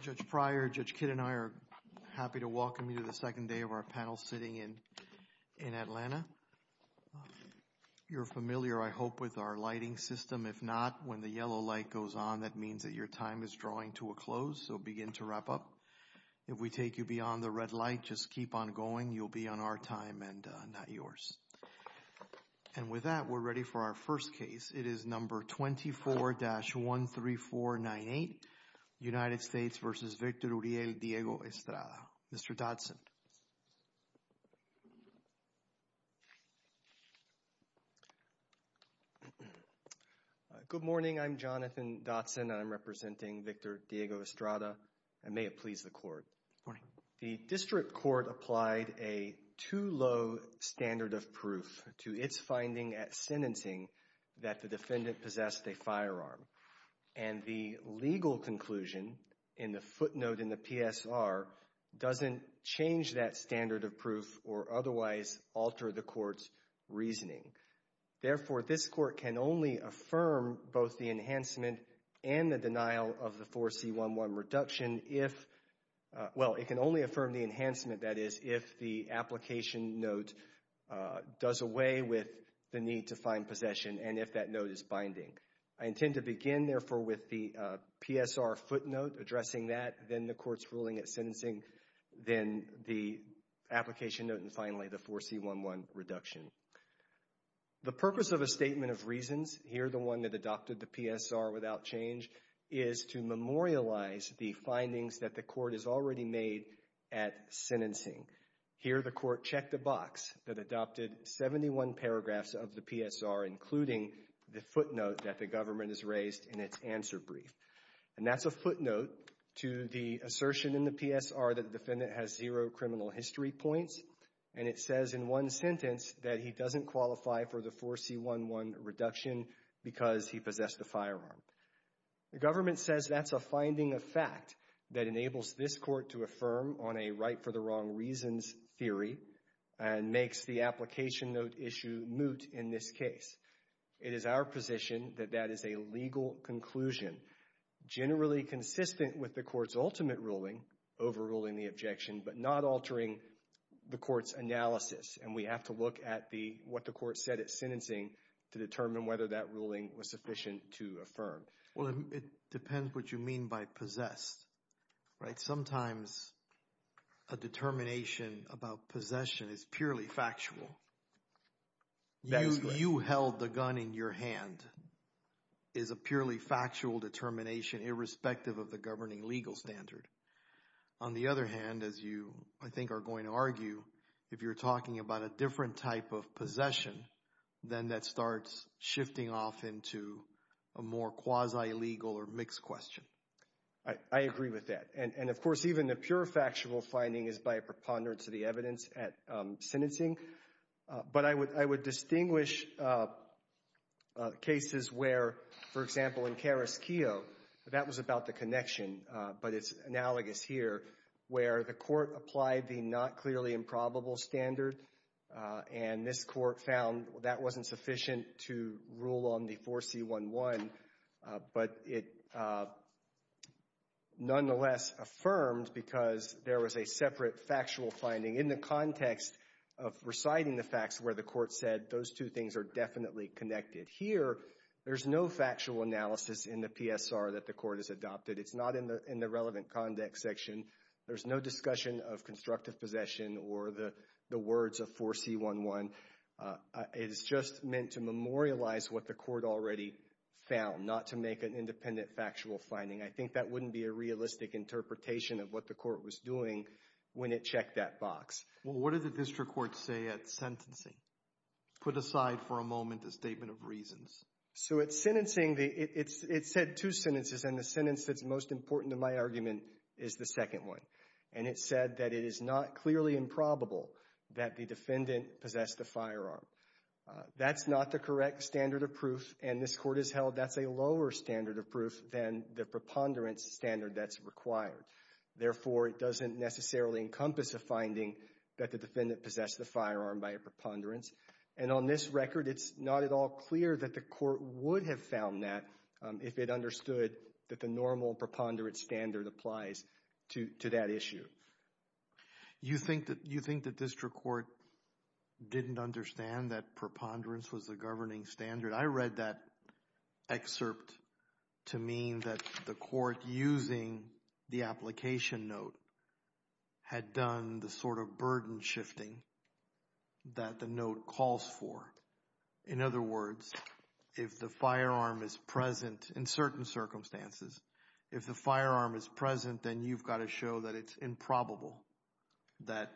Judge Pryor, Judge Kidd, and I are happy to welcome you to the second day of our panel sitting in Atlanta. You're familiar, I hope, with our lighting system. If not, when the yellow light goes on, that means that your time is drawing to a close, so begin to wrap up. If we take you beyond the red light, just keep on going. You'll be on our time and not yours. And with that, we're ready for our first case. It is number 24-13498, United States v. Victor Uriel Diego Estrada. Mr. Dotson. Good morning. I'm Jonathan Dotson. I'm representing Victor Diego Estrada, and may it please the Court. The district court applied a too-low standard of proof to its finding at sentencing that the defendant possessed a firearm. And the legal conclusion in the footnote in the PSR doesn't change that standard of proof or otherwise alter the court's reasoning. Therefore, this court can only affirm both the enhancement and the denial of the 4C11 reduction if, well, it can only affirm the enhancement, that is, if the application note does away with the need to find possession and if that note is binding. I intend to begin, therefore, with the PSR footnote addressing that, then the court's ruling at sentencing, then the application note, and finally the 4C11 reduction. The purpose of a statement of reasons, here the one that adopted the PSR without change, is to memorialize the findings that the court has already made at sentencing. Here the court checked the box that adopted 71 paragraphs of the PSR, including the footnote that the government has raised in its answer brief. And that's a footnote to the assertion in the PSR that the defendant has zero criminal history points. And it says in one sentence that he doesn't qualify for the 4C11 reduction because he possessed a firearm. The government says that's a finding of fact that enables this court to affirm on a right for the wrong reasons theory and makes the application note issue moot in this case. It is our position that that is a legal conclusion, generally consistent with the court's ultimate ruling, overruling the objection, but not altering the court's analysis. And we have to look at what the court said at sentencing to determine whether that ruling was sufficient to affirm. Well, it depends what you mean by possessed, right? Sometimes a determination about possession is purely factual. You held the gun in your hand is a purely factual determination irrespective of the governing legal standard. On the other hand, as you, I think, are going to argue, if you're talking about a different type of possession, then that starts shifting off into a more quasi-legal or mixed question. I agree with that. And, of course, even the pure factual finding is by a preponderance of the evidence at sentencing. But I would distinguish cases where, for example, in Karras-Keough, that was about the connection, but it's analogous here, where the court applied the not clearly improbable standard and this court found that wasn't sufficient to rule on the 4C11, but it nonetheless affirmed because there was a separate factual finding in the context of reciting the facts where the court said those two things are definitely connected. Here, there's no factual analysis in the PSR that the court has adopted. It's not in the relevant conduct section. There's no discussion of constructive possession or the words of 4C11. It is just meant to memorialize what the court already found, not to make an independent factual finding. I think that wouldn't be a realistic interpretation of what the court was doing when it checked that box. Well, what did the district court say at sentencing? Put aside for a moment the statement of reasons. So, at sentencing, it said two sentences, and the sentence that's most important to my argument is the second one, and it said that it is not clearly improbable that the defendant possessed the firearm. That's not the correct standard of proof, and this court has held that's a lower standard of proof than the preponderance standard that's required. Therefore, it doesn't necessarily encompass a finding that the defendant possessed the firearm by a preponderance, and on this record, it's not at all clear that the court would have found that if it understood that the normal preponderance standard applies to that issue. You think the district court didn't understand that preponderance was the governing standard? I read that excerpt to mean that the court, using the application note, had done the sort of burden shifting that the note calls for. In other words, if the firearm is present in certain circumstances, if the firearm is present, then you've got to show that it's improbable, that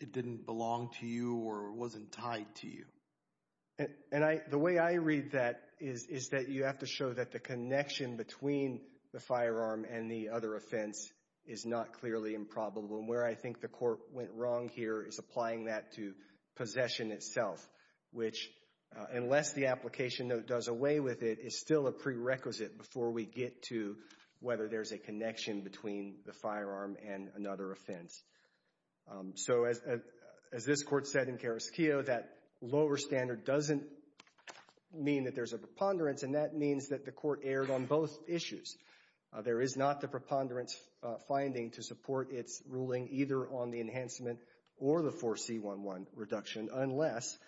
it didn't belong to you or wasn't tied to you. And the way I read that is that you have to show that the connection between the firearm and the other offense is not clearly improbable, and where I think the court went wrong here is applying that to possession itself, which, unless the application note does away with it, is still a prerequisite before we get to whether there's a connection between the firearm and another offense. So, as this Court said in Carrasquillo, that lower standard doesn't mean that there's a preponderance, and that means that the court erred on both issues. There is not the preponderance finding to support its ruling either on the enhancement or the 4C11 reduction, unless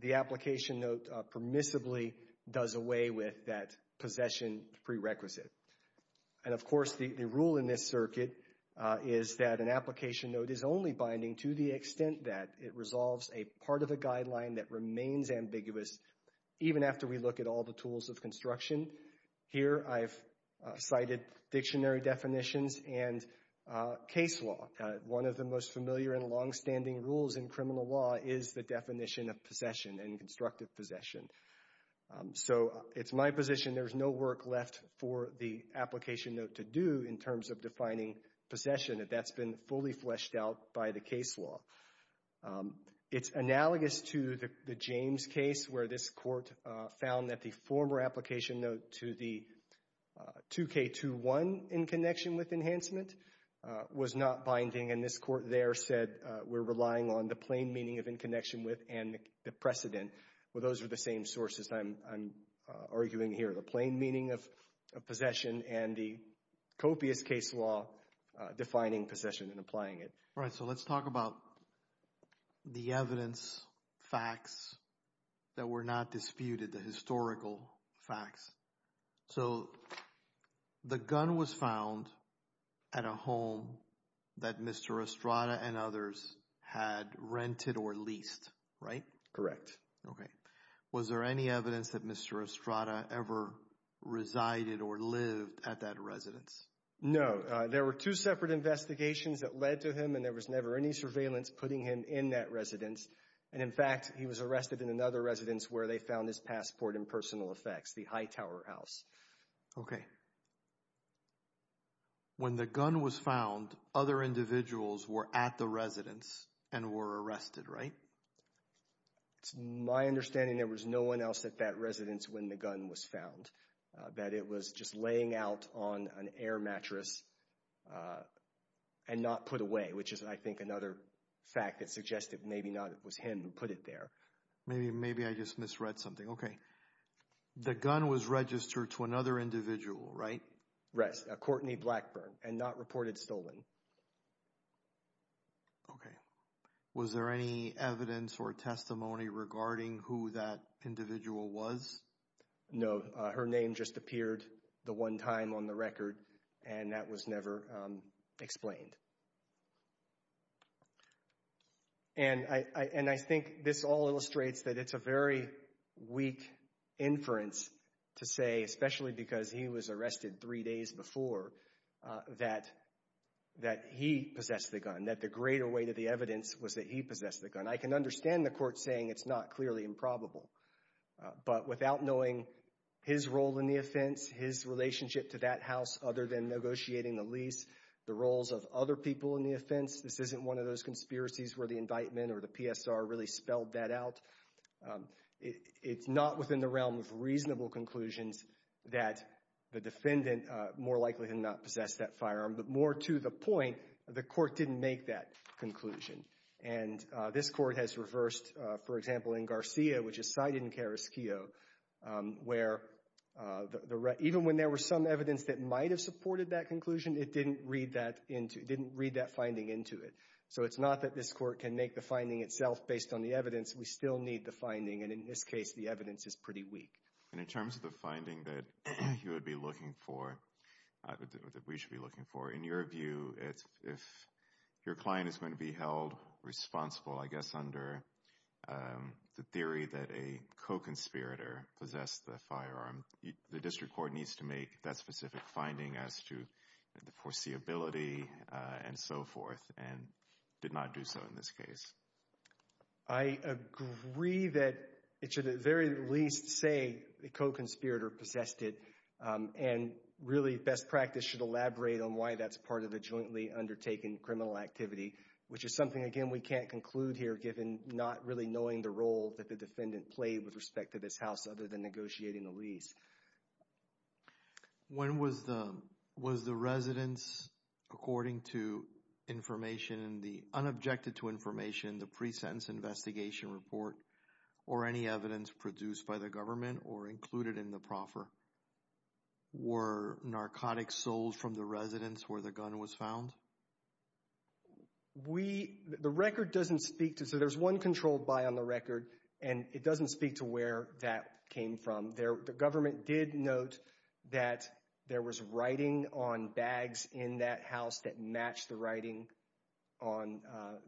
the application note permissibly does away with that possession prerequisite. And, of course, the rule in this circuit is that an application note is only binding to the extent that it resolves a part of the guideline that remains ambiguous, even after we look at all the tools of construction. Here, I've cited dictionary definitions and case law. One of the most familiar and longstanding rules in criminal law is the definition of possession and constructive possession. So, it's my position there's no work left for the application note to do in terms of defining possession. That's been fully fleshed out by the case law. It's analogous to the James case where this Court found that the former application note to the 2K21 in connection with enhancement was not binding, and this Court there said we're relying on the plain meaning of in connection with and the precedent. Well, those are the same sources I'm arguing here. The plain meaning of possession and the copious case law defining possession and applying it. All right. So, let's talk about the evidence facts that were not disputed, the historical facts. So, the gun was found at a home that Mr. Estrada and others had rented or leased, right? Correct. Okay. Was there any evidence that Mr. Estrada ever resided or lived at that residence? No. There were two separate investigations that led to him, and there was never any surveillance putting him in that residence. And in fact, he was arrested in another residence where they found his passport in personal effects, the Hightower House. Okay. When the gun was found, other individuals were at the residence and were arrested, right? It's my understanding there was no one else at that residence when the gun was found, that it was just laying out on an air mattress and not put away, which is, I think, another fact that suggested maybe not it was him who put it there. Maybe I just misread something. Okay. The gun was registered to another individual, right? Yes, Courtney Blackburn, and not reported stolen. Okay. Was there any evidence or testimony regarding who that individual was? No. Her name just appeared the one time on the record, and that was never explained. And I think this all illustrates that it's a very weak inference to say, especially because he was arrested three days before, that he possessed the gun, that the greater weight of the evidence was that he possessed the gun. I can understand the court saying it's not clearly improbable. But without knowing his role in the offense, his relationship to that house, other than negotiating the lease, the roles of other people in the offense, this isn't one of those conspiracies where the indictment or the PSR really spelled that out. It's not within the realm of reasonable conclusions that the defendant more likely than not possessed that firearm. But more to the point, the court didn't make that conclusion. And this court has reversed, for example, in Garcia, which is cited in Carrasquillo, where even when there were some evidence that might have supported that conclusion, it didn't read that finding into it. So it's not that this court can make the finding itself based on the evidence. We still need the finding. And in this case, the evidence is pretty weak. And in terms of the finding that you would be looking for, that we should be looking for, in your view, if your client is going to be held responsible, I guess, under the theory that a co-conspirator possessed the firearm, the district court needs to make that specific finding as to the foreseeability and so forth, and did not do so in this case. I agree that it should at very least say the co-conspirator possessed it. And really, best practice should elaborate on why that's part of the jointly undertaken criminal activity, which is something, again, we can't conclude here, given not really knowing the role that the defendant played with respect to this house, other than negotiating the lease. When was the residence, according to information, the unobjected to information, the pre-sentence investigation report, or any evidence produced by the government or included in the proffer? Were narcotics sold from the residence where the gun was found? We, the record doesn't speak to, so there's one controlled buy on the record, and it doesn't speak to where that came from. The government did note that there was writing on bags in that house that matched the writing on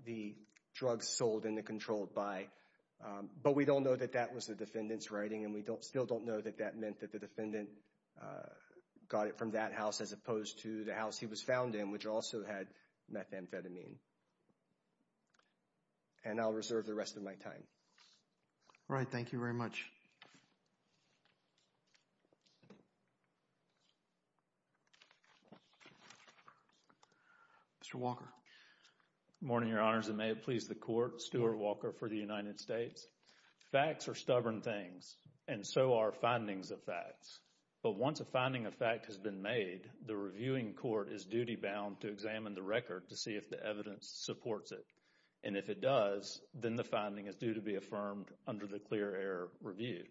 the drugs sold in the controlled buy. But we don't know that that was the defendant's writing, and we still don't know that that defendant got it from that house as opposed to the house he was found in, which also had methamphetamine. And I'll reserve the rest of my time. All right, thank you very much. Mr. Walker. Good morning, Your Honors, and may it please the Court, Stuart Walker for the United States. Facts are stubborn things, and so are findings of facts. But once a finding of fact has been made, the reviewing court is duty-bound to examine the record to see if the evidence supports it. And if it does, then the finding is due to be affirmed under the clear error review.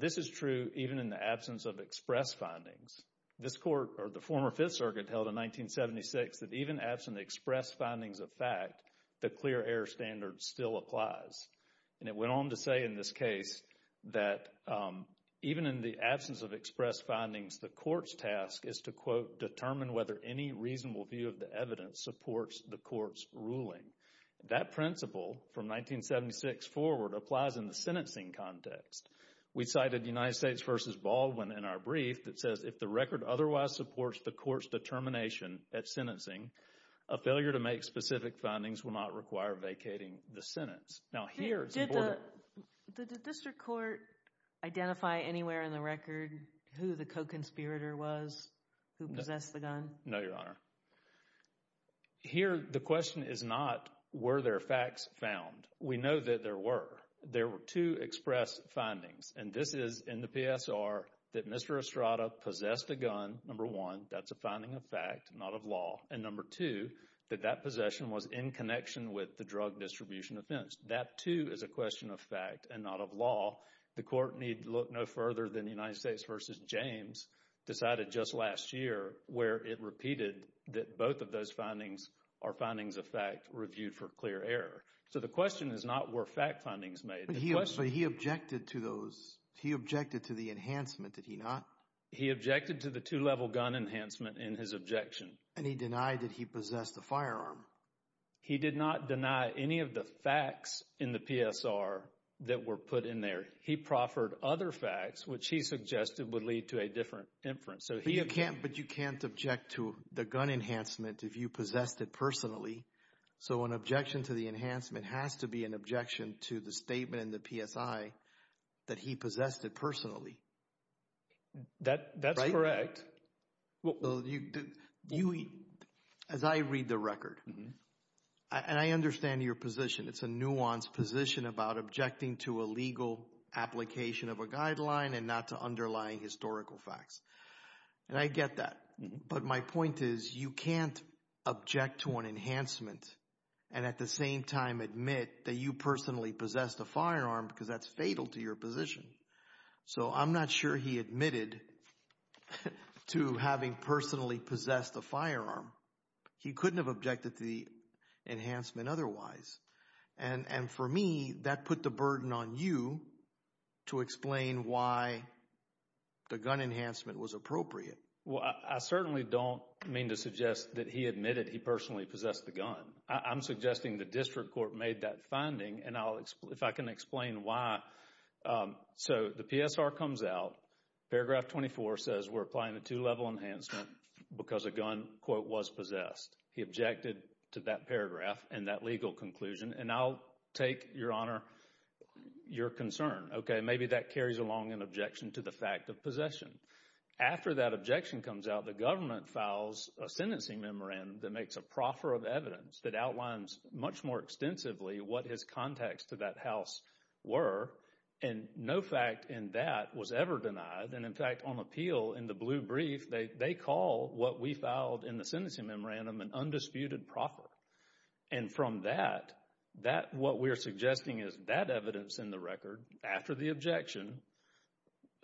This is true even in the absence of express findings. This Court, or the former Fifth Circuit, held in 1976 that even absent express findings of fact, the clear error standard still applies. And it went on to say in this case that even in the absence of express findings, the Court's task is to, quote, determine whether any reasonable view of the evidence supports the Court's ruling. That principle, from 1976 forward, applies in the sentencing context. We cited United States v. Baldwin in our brief that says if the record otherwise supports the Court's determination at sentencing, a failure to make specific findings will not require vacating the sentence. Now, here, it's important. Did the district court identify anywhere in the record who the co-conspirator was who possessed the gun? No, Your Honor. Here, the question is not were there facts found. We know that there were. There were two express findings. And this is in the PSR that Mr. Estrada possessed the gun, number one. That's a finding of fact, not of law. And number two, that that possession was in connection with the drug distribution offense. That, too, is a question of fact and not of law. The Court need look no further than United States v. James decided just last year where it repeated that both of those findings are findings of fact reviewed for clear error. So the question is not were fact findings made. But he objected to those. He objected to the enhancement, did he not? He objected to the two-level gun enhancement in his objection. And he denied that he possessed the firearm. He did not deny any of the facts in the PSR that were put in there. He proffered other facts, which he suggested would lead to a different inference. But you can't object to the gun enhancement if you possessed it personally. So an objection to the enhancement has to be an objection to the statement in the PSI that he possessed it personally. That's correct. Well, as I read the record, and I understand your position. It's a nuanced position about objecting to a legal application of a guideline and not to underlying historical facts. And I get that. But my point is you can't object to an enhancement and at the same time admit that you personally possessed a firearm because that's fatal to your position. So I'm not sure he admitted to having personally possessed a firearm. He couldn't have objected to the enhancement otherwise. And for me, that put the burden on you to explain why the gun enhancement was appropriate. Well, I certainly don't mean to suggest that he admitted he personally possessed the gun. I'm suggesting the district court made that finding. And if I can explain why. So the PSR comes out. Paragraph 24 says we're applying a two-level enhancement because a gun, quote, was possessed. He objected to that paragraph and that legal conclusion. And I'll take, Your Honor, your concern. Okay. Maybe that carries along an objection to the fact of possession. After that objection comes out, the government files a sentencing memorandum that makes a that outlines much more extensively what his contacts to that house were. And no fact in that was ever denied. And in fact, on appeal in the blue brief, they call what we filed in the sentencing memorandum an undisputed proffer. And from that, what we're suggesting is that evidence in the record after the objection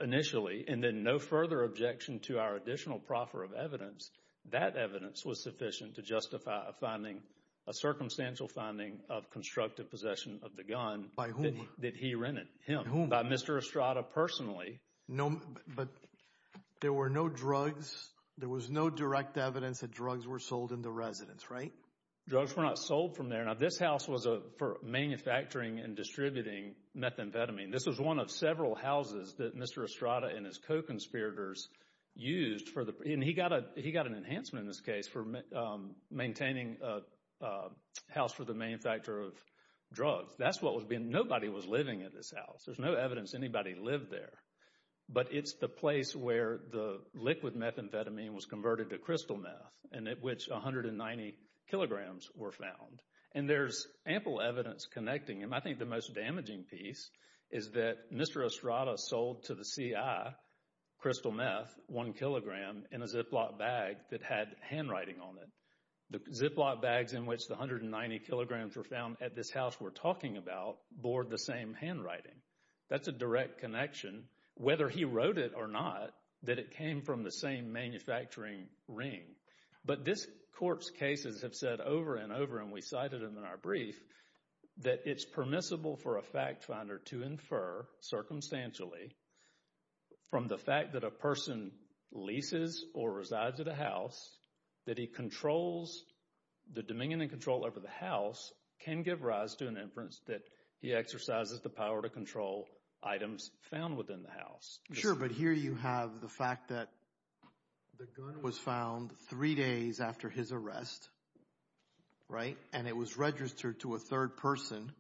initially and then no further objection to our additional proffer of evidence, that evidence was sufficient to justify a finding, a circumstantial finding of constructive possession of the gun. By whom? That he rented. Him. By Mr. Estrada personally. No, but there were no drugs. There was no direct evidence that drugs were sold in the residence, right? Drugs were not sold from there. Now, this house was for manufacturing and distributing methamphetamine. This was one of several houses that Mr. Estrada and his co-conspirators used for the, and he got a, he got an enhancement in this case for maintaining a house for the manufacturer of drugs. That's what was being, nobody was living at this house. There's no evidence anybody lived there. But it's the place where the liquid methamphetamine was converted to crystal meth and at which 190 kilograms were found. And there's ample evidence connecting them. I think the most damaging piece is that Mr. Estrada sold to the CI crystal meth, one kilogram, in a Ziploc bag that had handwriting on it. The Ziploc bags in which the 190 kilograms were found at this house we're talking about bore the same handwriting. That's a direct connection. Whether he wrote it or not, that it came from the same manufacturing ring. But this corpse cases have said over and over, and we cited them in our brief, that it's permissible for a fact finder to infer, circumstantially, from the fact that a person leases or resides at a house, that he controls the dominion and control over the house, can give rise to an inference that he exercises the power to control items found within the house. Sure, but here you have the fact that the gun was found three days after his arrest, right, and it was registered to a third person,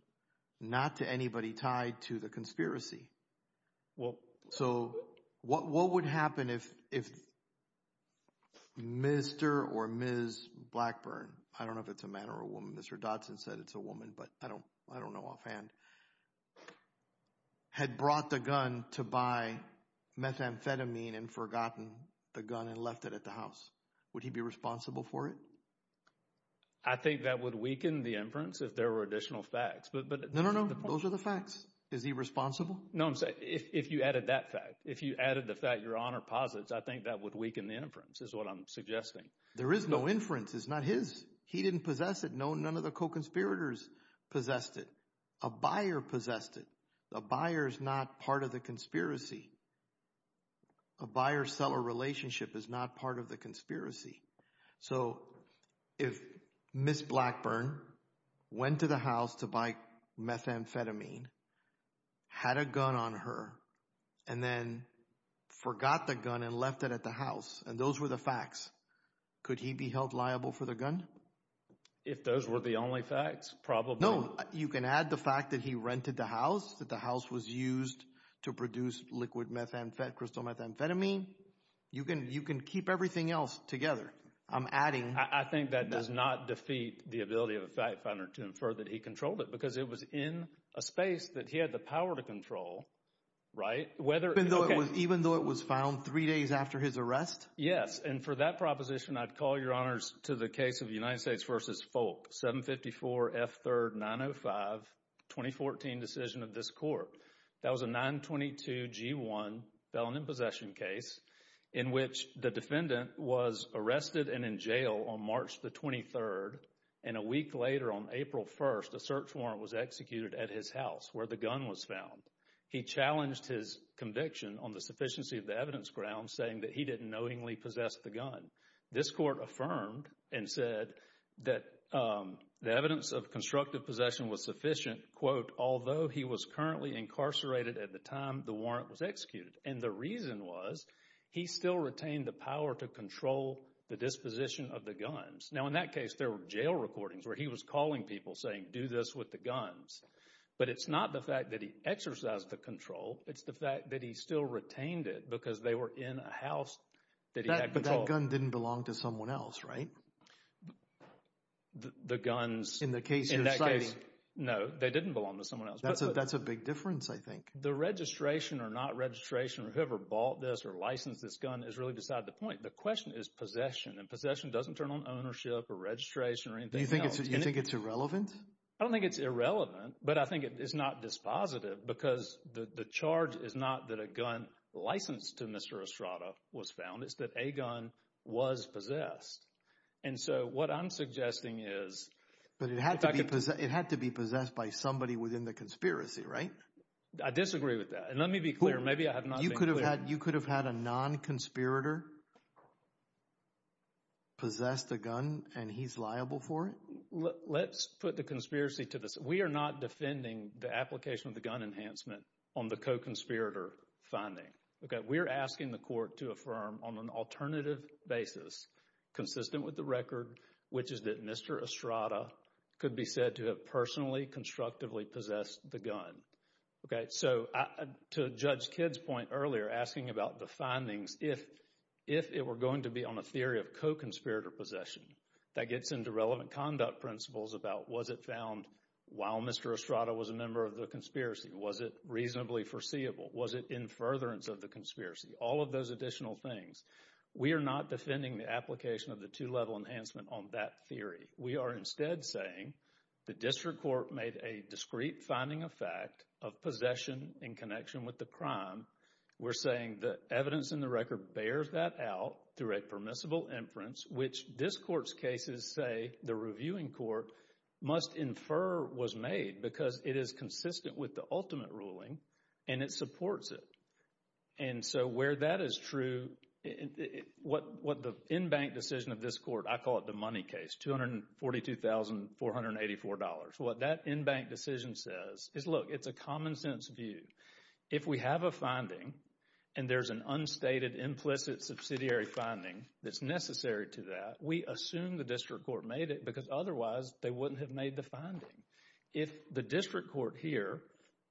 not to anybody tied to the conspiracy. So what would happen if Mr. or Ms. Blackburn, I don't know if it's a man or a woman, Mr. Dodson said it's a woman, but I don't know offhand, had brought the gun to buy methamphetamine and forgotten the gun and left it at the house? Would he be responsible for it? I think that would weaken the inference if there were additional facts. No, no, no, those are the facts. Is he responsible? No, I'm saying if you added that fact, if you added the fact your honor posits, I think that would weaken the inference is what I'm suggesting. There is no inference. It's not his. He didn't possess it. No, none of the co-conspirators possessed it. A buyer possessed it. The buyer is not part of the conspiracy. A buyer-seller relationship is not part of the conspiracy. So if Ms. Blackburn went to the house to buy methamphetamine, had a gun on her, and then forgot the gun and left it at the house, and those were the facts, could he be held liable for the gun? If those were the only facts, probably. No, you can add the fact that he rented the house, that the house was used to produce liquid methamphetamine, crystal methamphetamine. You can keep everything else together. I'm adding that. I think that does not defeat the ability of a fact finder to infer that he controlled it, because it was in a space that he had the power to control, right? Even though it was found three days after his arrest? Yes, and for that proposition, I'd call your honors to the case of United States v. Folk, 754 F. 3rd, 905, 2014 decision of this court. That was a 922 G1 felon in possession case, in which the defendant was arrested and in jail on March the 23rd, and a week later on April 1st, a search warrant was executed at his house where the gun was found. He challenged his conviction on the sufficiency of the evidence ground, saying that he didn't knowingly possess the gun. This court affirmed and said that the evidence of constructive possession was sufficient, although he was currently incarcerated at the time the warrant was executed, and the reason was he still retained the power to control the disposition of the guns. Now, in that case, there were jail recordings where he was calling people saying, do this with the guns, but it's not the fact that he exercised the control. It's the fact that he still retained it because they were in a house that he had control. But that gun didn't belong to someone else, right? The guns... In the case you're citing? No, they didn't belong to someone else. That's a big difference, I think. The registration or not registration or whoever bought this or licensed this gun is really beside the point. The question is possession, and possession doesn't turn on ownership or registration or anything else. You think it's irrelevant? I don't think it's irrelevant, but I think it's not dispositive because the charge is not that a gun licensed to Mr. Estrada was found. It's that a gun was possessed. And so what I'm suggesting is... But it had to be possessed by somebody within the conspiracy, right? I disagree with that. And let me be clear. Maybe I have not been clear. You could have had a non-conspirator possess the gun and he's liable for it? Let's put the conspiracy to the side. We are not defending the application of the gun enhancement on the co-conspirator finding. We're asking the court to affirm on an alternative basis, consistent with the record, which is that Mr. Estrada could be said to have personally constructively possessed the gun. Okay, so to Judge Kidd's point earlier asking about the findings, if it were going to be on a theory of co-conspirator possession, that gets into relevant conduct principles about was it found while Mr. Estrada was a member of the conspiracy? Was it reasonably foreseeable? Was it in furtherance of the conspiracy? All of those additional things. We are not defending the application of the two-level enhancement on that theory. We are instead saying the district court made a discrete finding of fact of possession in connection with the crime. We're saying the evidence in the record bears that out through a permissible inference, which this court's cases say the reviewing court must infer was made because it is consistent with the ultimate ruling and it supports it. And so where that is true, what the in-bank decision of this court, I call it the money case, $242,484. What that in-bank decision says is, look, it's a common sense view. If we have a finding and there's an unstated implicit subsidiary finding that's necessary to that, we assume the district court made it because otherwise they wouldn't have made the finding. If the district court here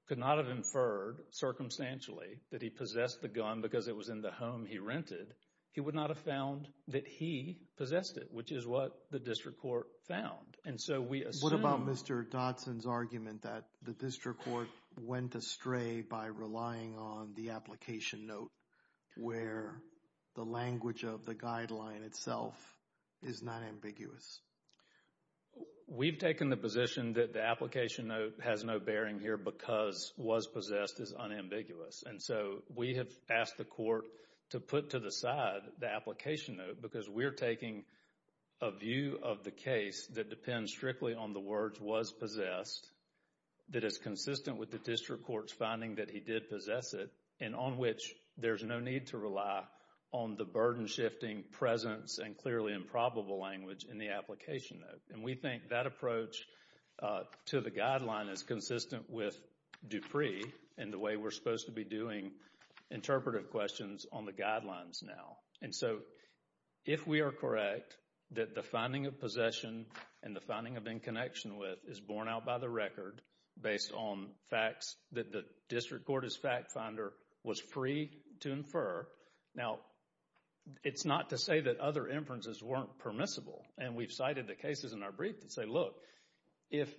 could not have inferred circumstantially that he possessed the gun because it was in the home he rented, he would not have found that he possessed it, which is what the district court found. And so we assume... What about Mr. Dodson's argument that the district court went astray by relying on the application note where the language of the guideline itself is not ambiguous? We've taken the position that the application note has no bearing here because was possessed is unambiguous. And so we have asked the court to put to the side the application note because we're taking a view of the case that depends strictly on the words was possessed, that is consistent with the district court's finding that he did possess it, and on which there's no need to rely on the burden-shifting presence and clearly improbable language in the application note. And we think that approach to the guideline is consistent with Dupree and the way we're supposed to be doing interpretive questions on the guidelines now. And so if we are correct that the finding of possession and the finding of in connection with is borne out by the record based on facts that the district court's fact finder was free to infer, now it's not to say that other inferences weren't permissible. And we've cited the cases in our brief that say, look, if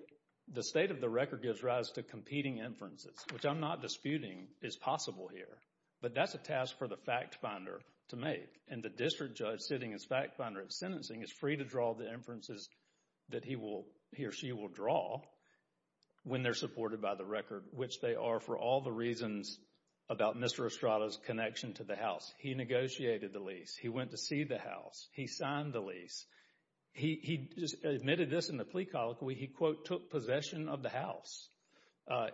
the state of the record gives rise to competing inferences, which I'm not disputing is possible here, but that's a task for the fact finder to make. And the district judge sitting as fact finder at sentencing is free to draw the inferences that he will, he or she will draw when they're supported by the record, which they are for all the reasons about Mr. Estrada's connection to the house. He negotiated the lease. He went to see the house. He signed the lease. He admitted this in the plea colloquy. He, quote, took possession of the house.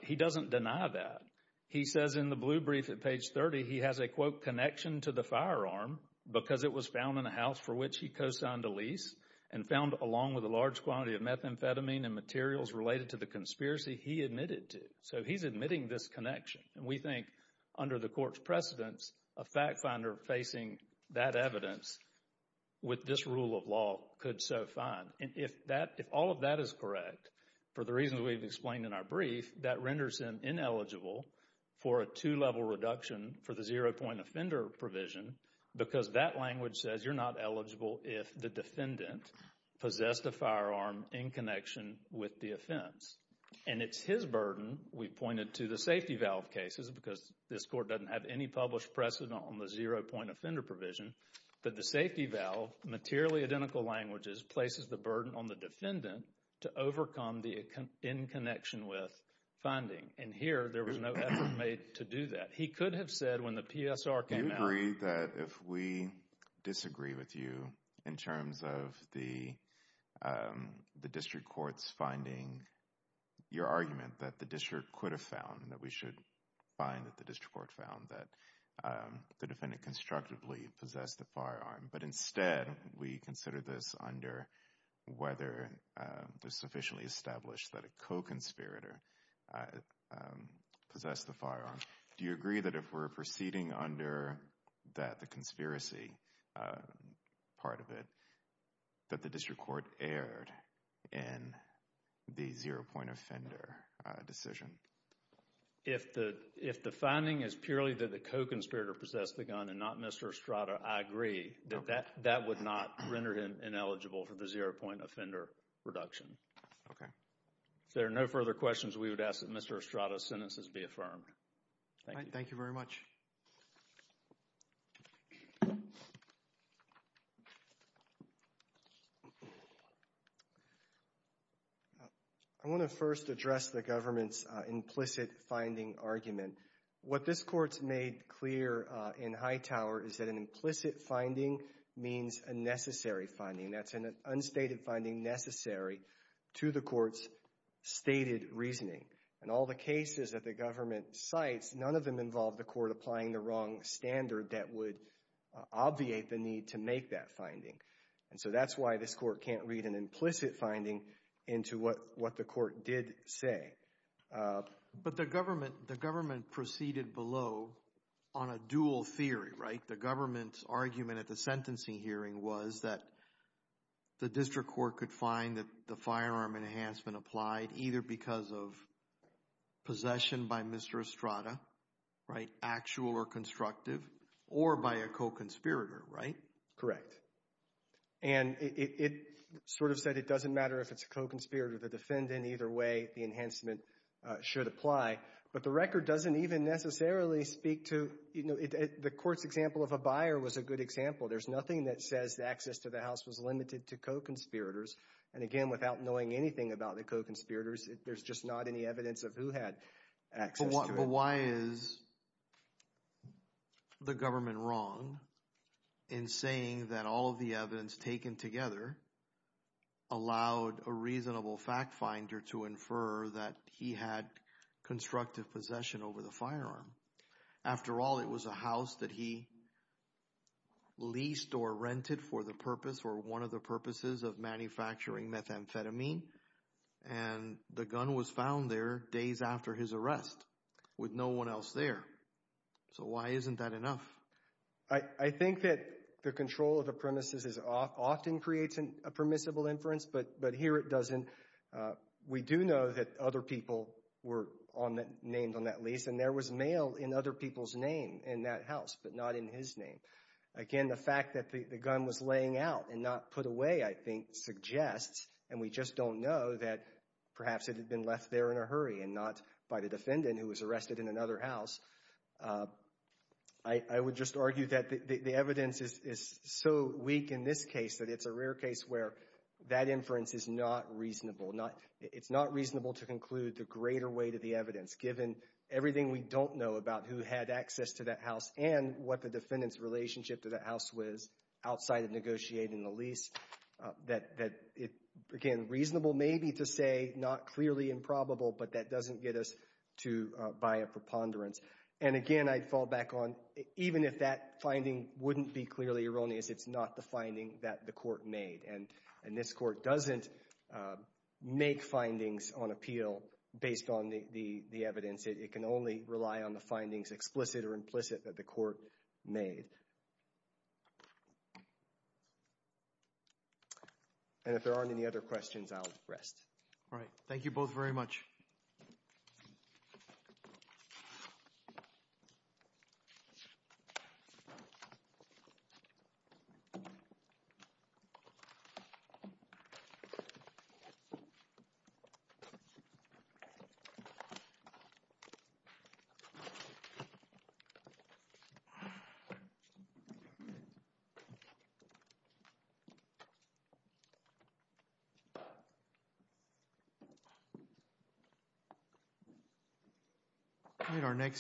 He doesn't deny that. He says in the blue brief at page 30, he has a, quote, connection to the firearm because it was found in a house for which he co-signed a lease and found along with a large quantity of methamphetamine and materials related to the conspiracy he admitted to. So he's admitting this connection. And we think under the court's precedence, a fact finder facing that evidence with this rule of law could so find. And if that, if all of that is correct, for the reasons we've explained in our brief, that renders him ineligible for a two-level reduction for the zero-point offender provision because that language says you're not eligible if the defendant possessed a firearm in connection with the offense. And it's his burden, we pointed to the safety valve cases because this court doesn't have any published precedent on the zero-point offender provision, that the safety valve, materially identical languages, places the burden on the defendant to overcome the in connection with finding. And here, there was no effort made to do that. He could have said when the PSR came out. You agree that if we disagree with you in terms of the district courts finding your argument that the district could have found and that we should find that the district court found that the defendant constructively possessed the firearm, but instead we consider this under whether there's sufficiently established that a co-conspirator possessed the firearm. Do you agree that if we're proceeding under that the conspiracy part of it, that the district court erred in the zero-point offender decision? If the finding is purely that the co-conspirator possessed the gun and not Mr. Estrada, I agree. That would not render him ineligible for the zero-point offender reduction. Okay. If there are no further questions, we would ask that Mr. Estrada's sentences be affirmed. Thank you. Thank you very much. I want to first address the government's implicit finding argument. What this court's made clear in Hightower is that an implicit finding means a necessary finding. That's an unstated finding necessary to the court's stated reasoning. In all the cases that the government cites, none of them involve the court applying the wrong standard that would obviate the need to make that finding. And so that's why this court can't read an implicit finding into what the court did say. But the government proceeded below on a dual theory, right? The government's argument at the sentencing hearing was that the district court could find that the firearm enhancement applied either because of possession by Mr. Estrada right, actual or constructive, or by a co-conspirator, right? Correct. And it sort of said it doesn't matter if it's a co-conspirator, the defendant, either way, the enhancement should apply. But the record doesn't even necessarily speak to, you know, the court's example of a buyer was a good example. There's nothing that says the access to the house was limited to co-conspirators. And again, without knowing anything about the co-conspirators, there's just not any evidence of who had access to it. So why is the government wrong in saying that all of the evidence taken together allowed a reasonable fact finder to infer that he had constructive possession over the firearm? After all, it was a house that he leased or rented for the purpose or one of the purposes of manufacturing methamphetamine. And the gun was found there days after his arrest. With no one else there. So why isn't that enough? I think that the control of the premises often creates a permissible inference, but here it doesn't. We do know that other people were named on that lease and there was mail in other people's name in that house, but not in his name. Again, the fact that the gun was laying out and not put away, I think, suggests, and we just don't know, that perhaps it had been left there in a hurry and not by the defendant who was arrested in another house. I would just argue that the evidence is so weak in this case that it's a rare case where that inference is not reasonable. It's not reasonable to conclude the greater weight of the evidence, given everything we don't know about who had access to that house and what the defendant's relationship to that house was outside of negotiating the lease, that it became reasonable, maybe, to say not clearly improbable, but that doesn't get us to buy a preponderance. And again, I'd fall back on, even if that finding wouldn't be clearly erroneous, it's not the finding that the court made. And this court doesn't make findings on appeal based on the evidence. It can only rely on the findings, explicit or implicit, that the court made. And if there aren't any other questions, I'll rest. All right. Thank you both very much. All right, our next.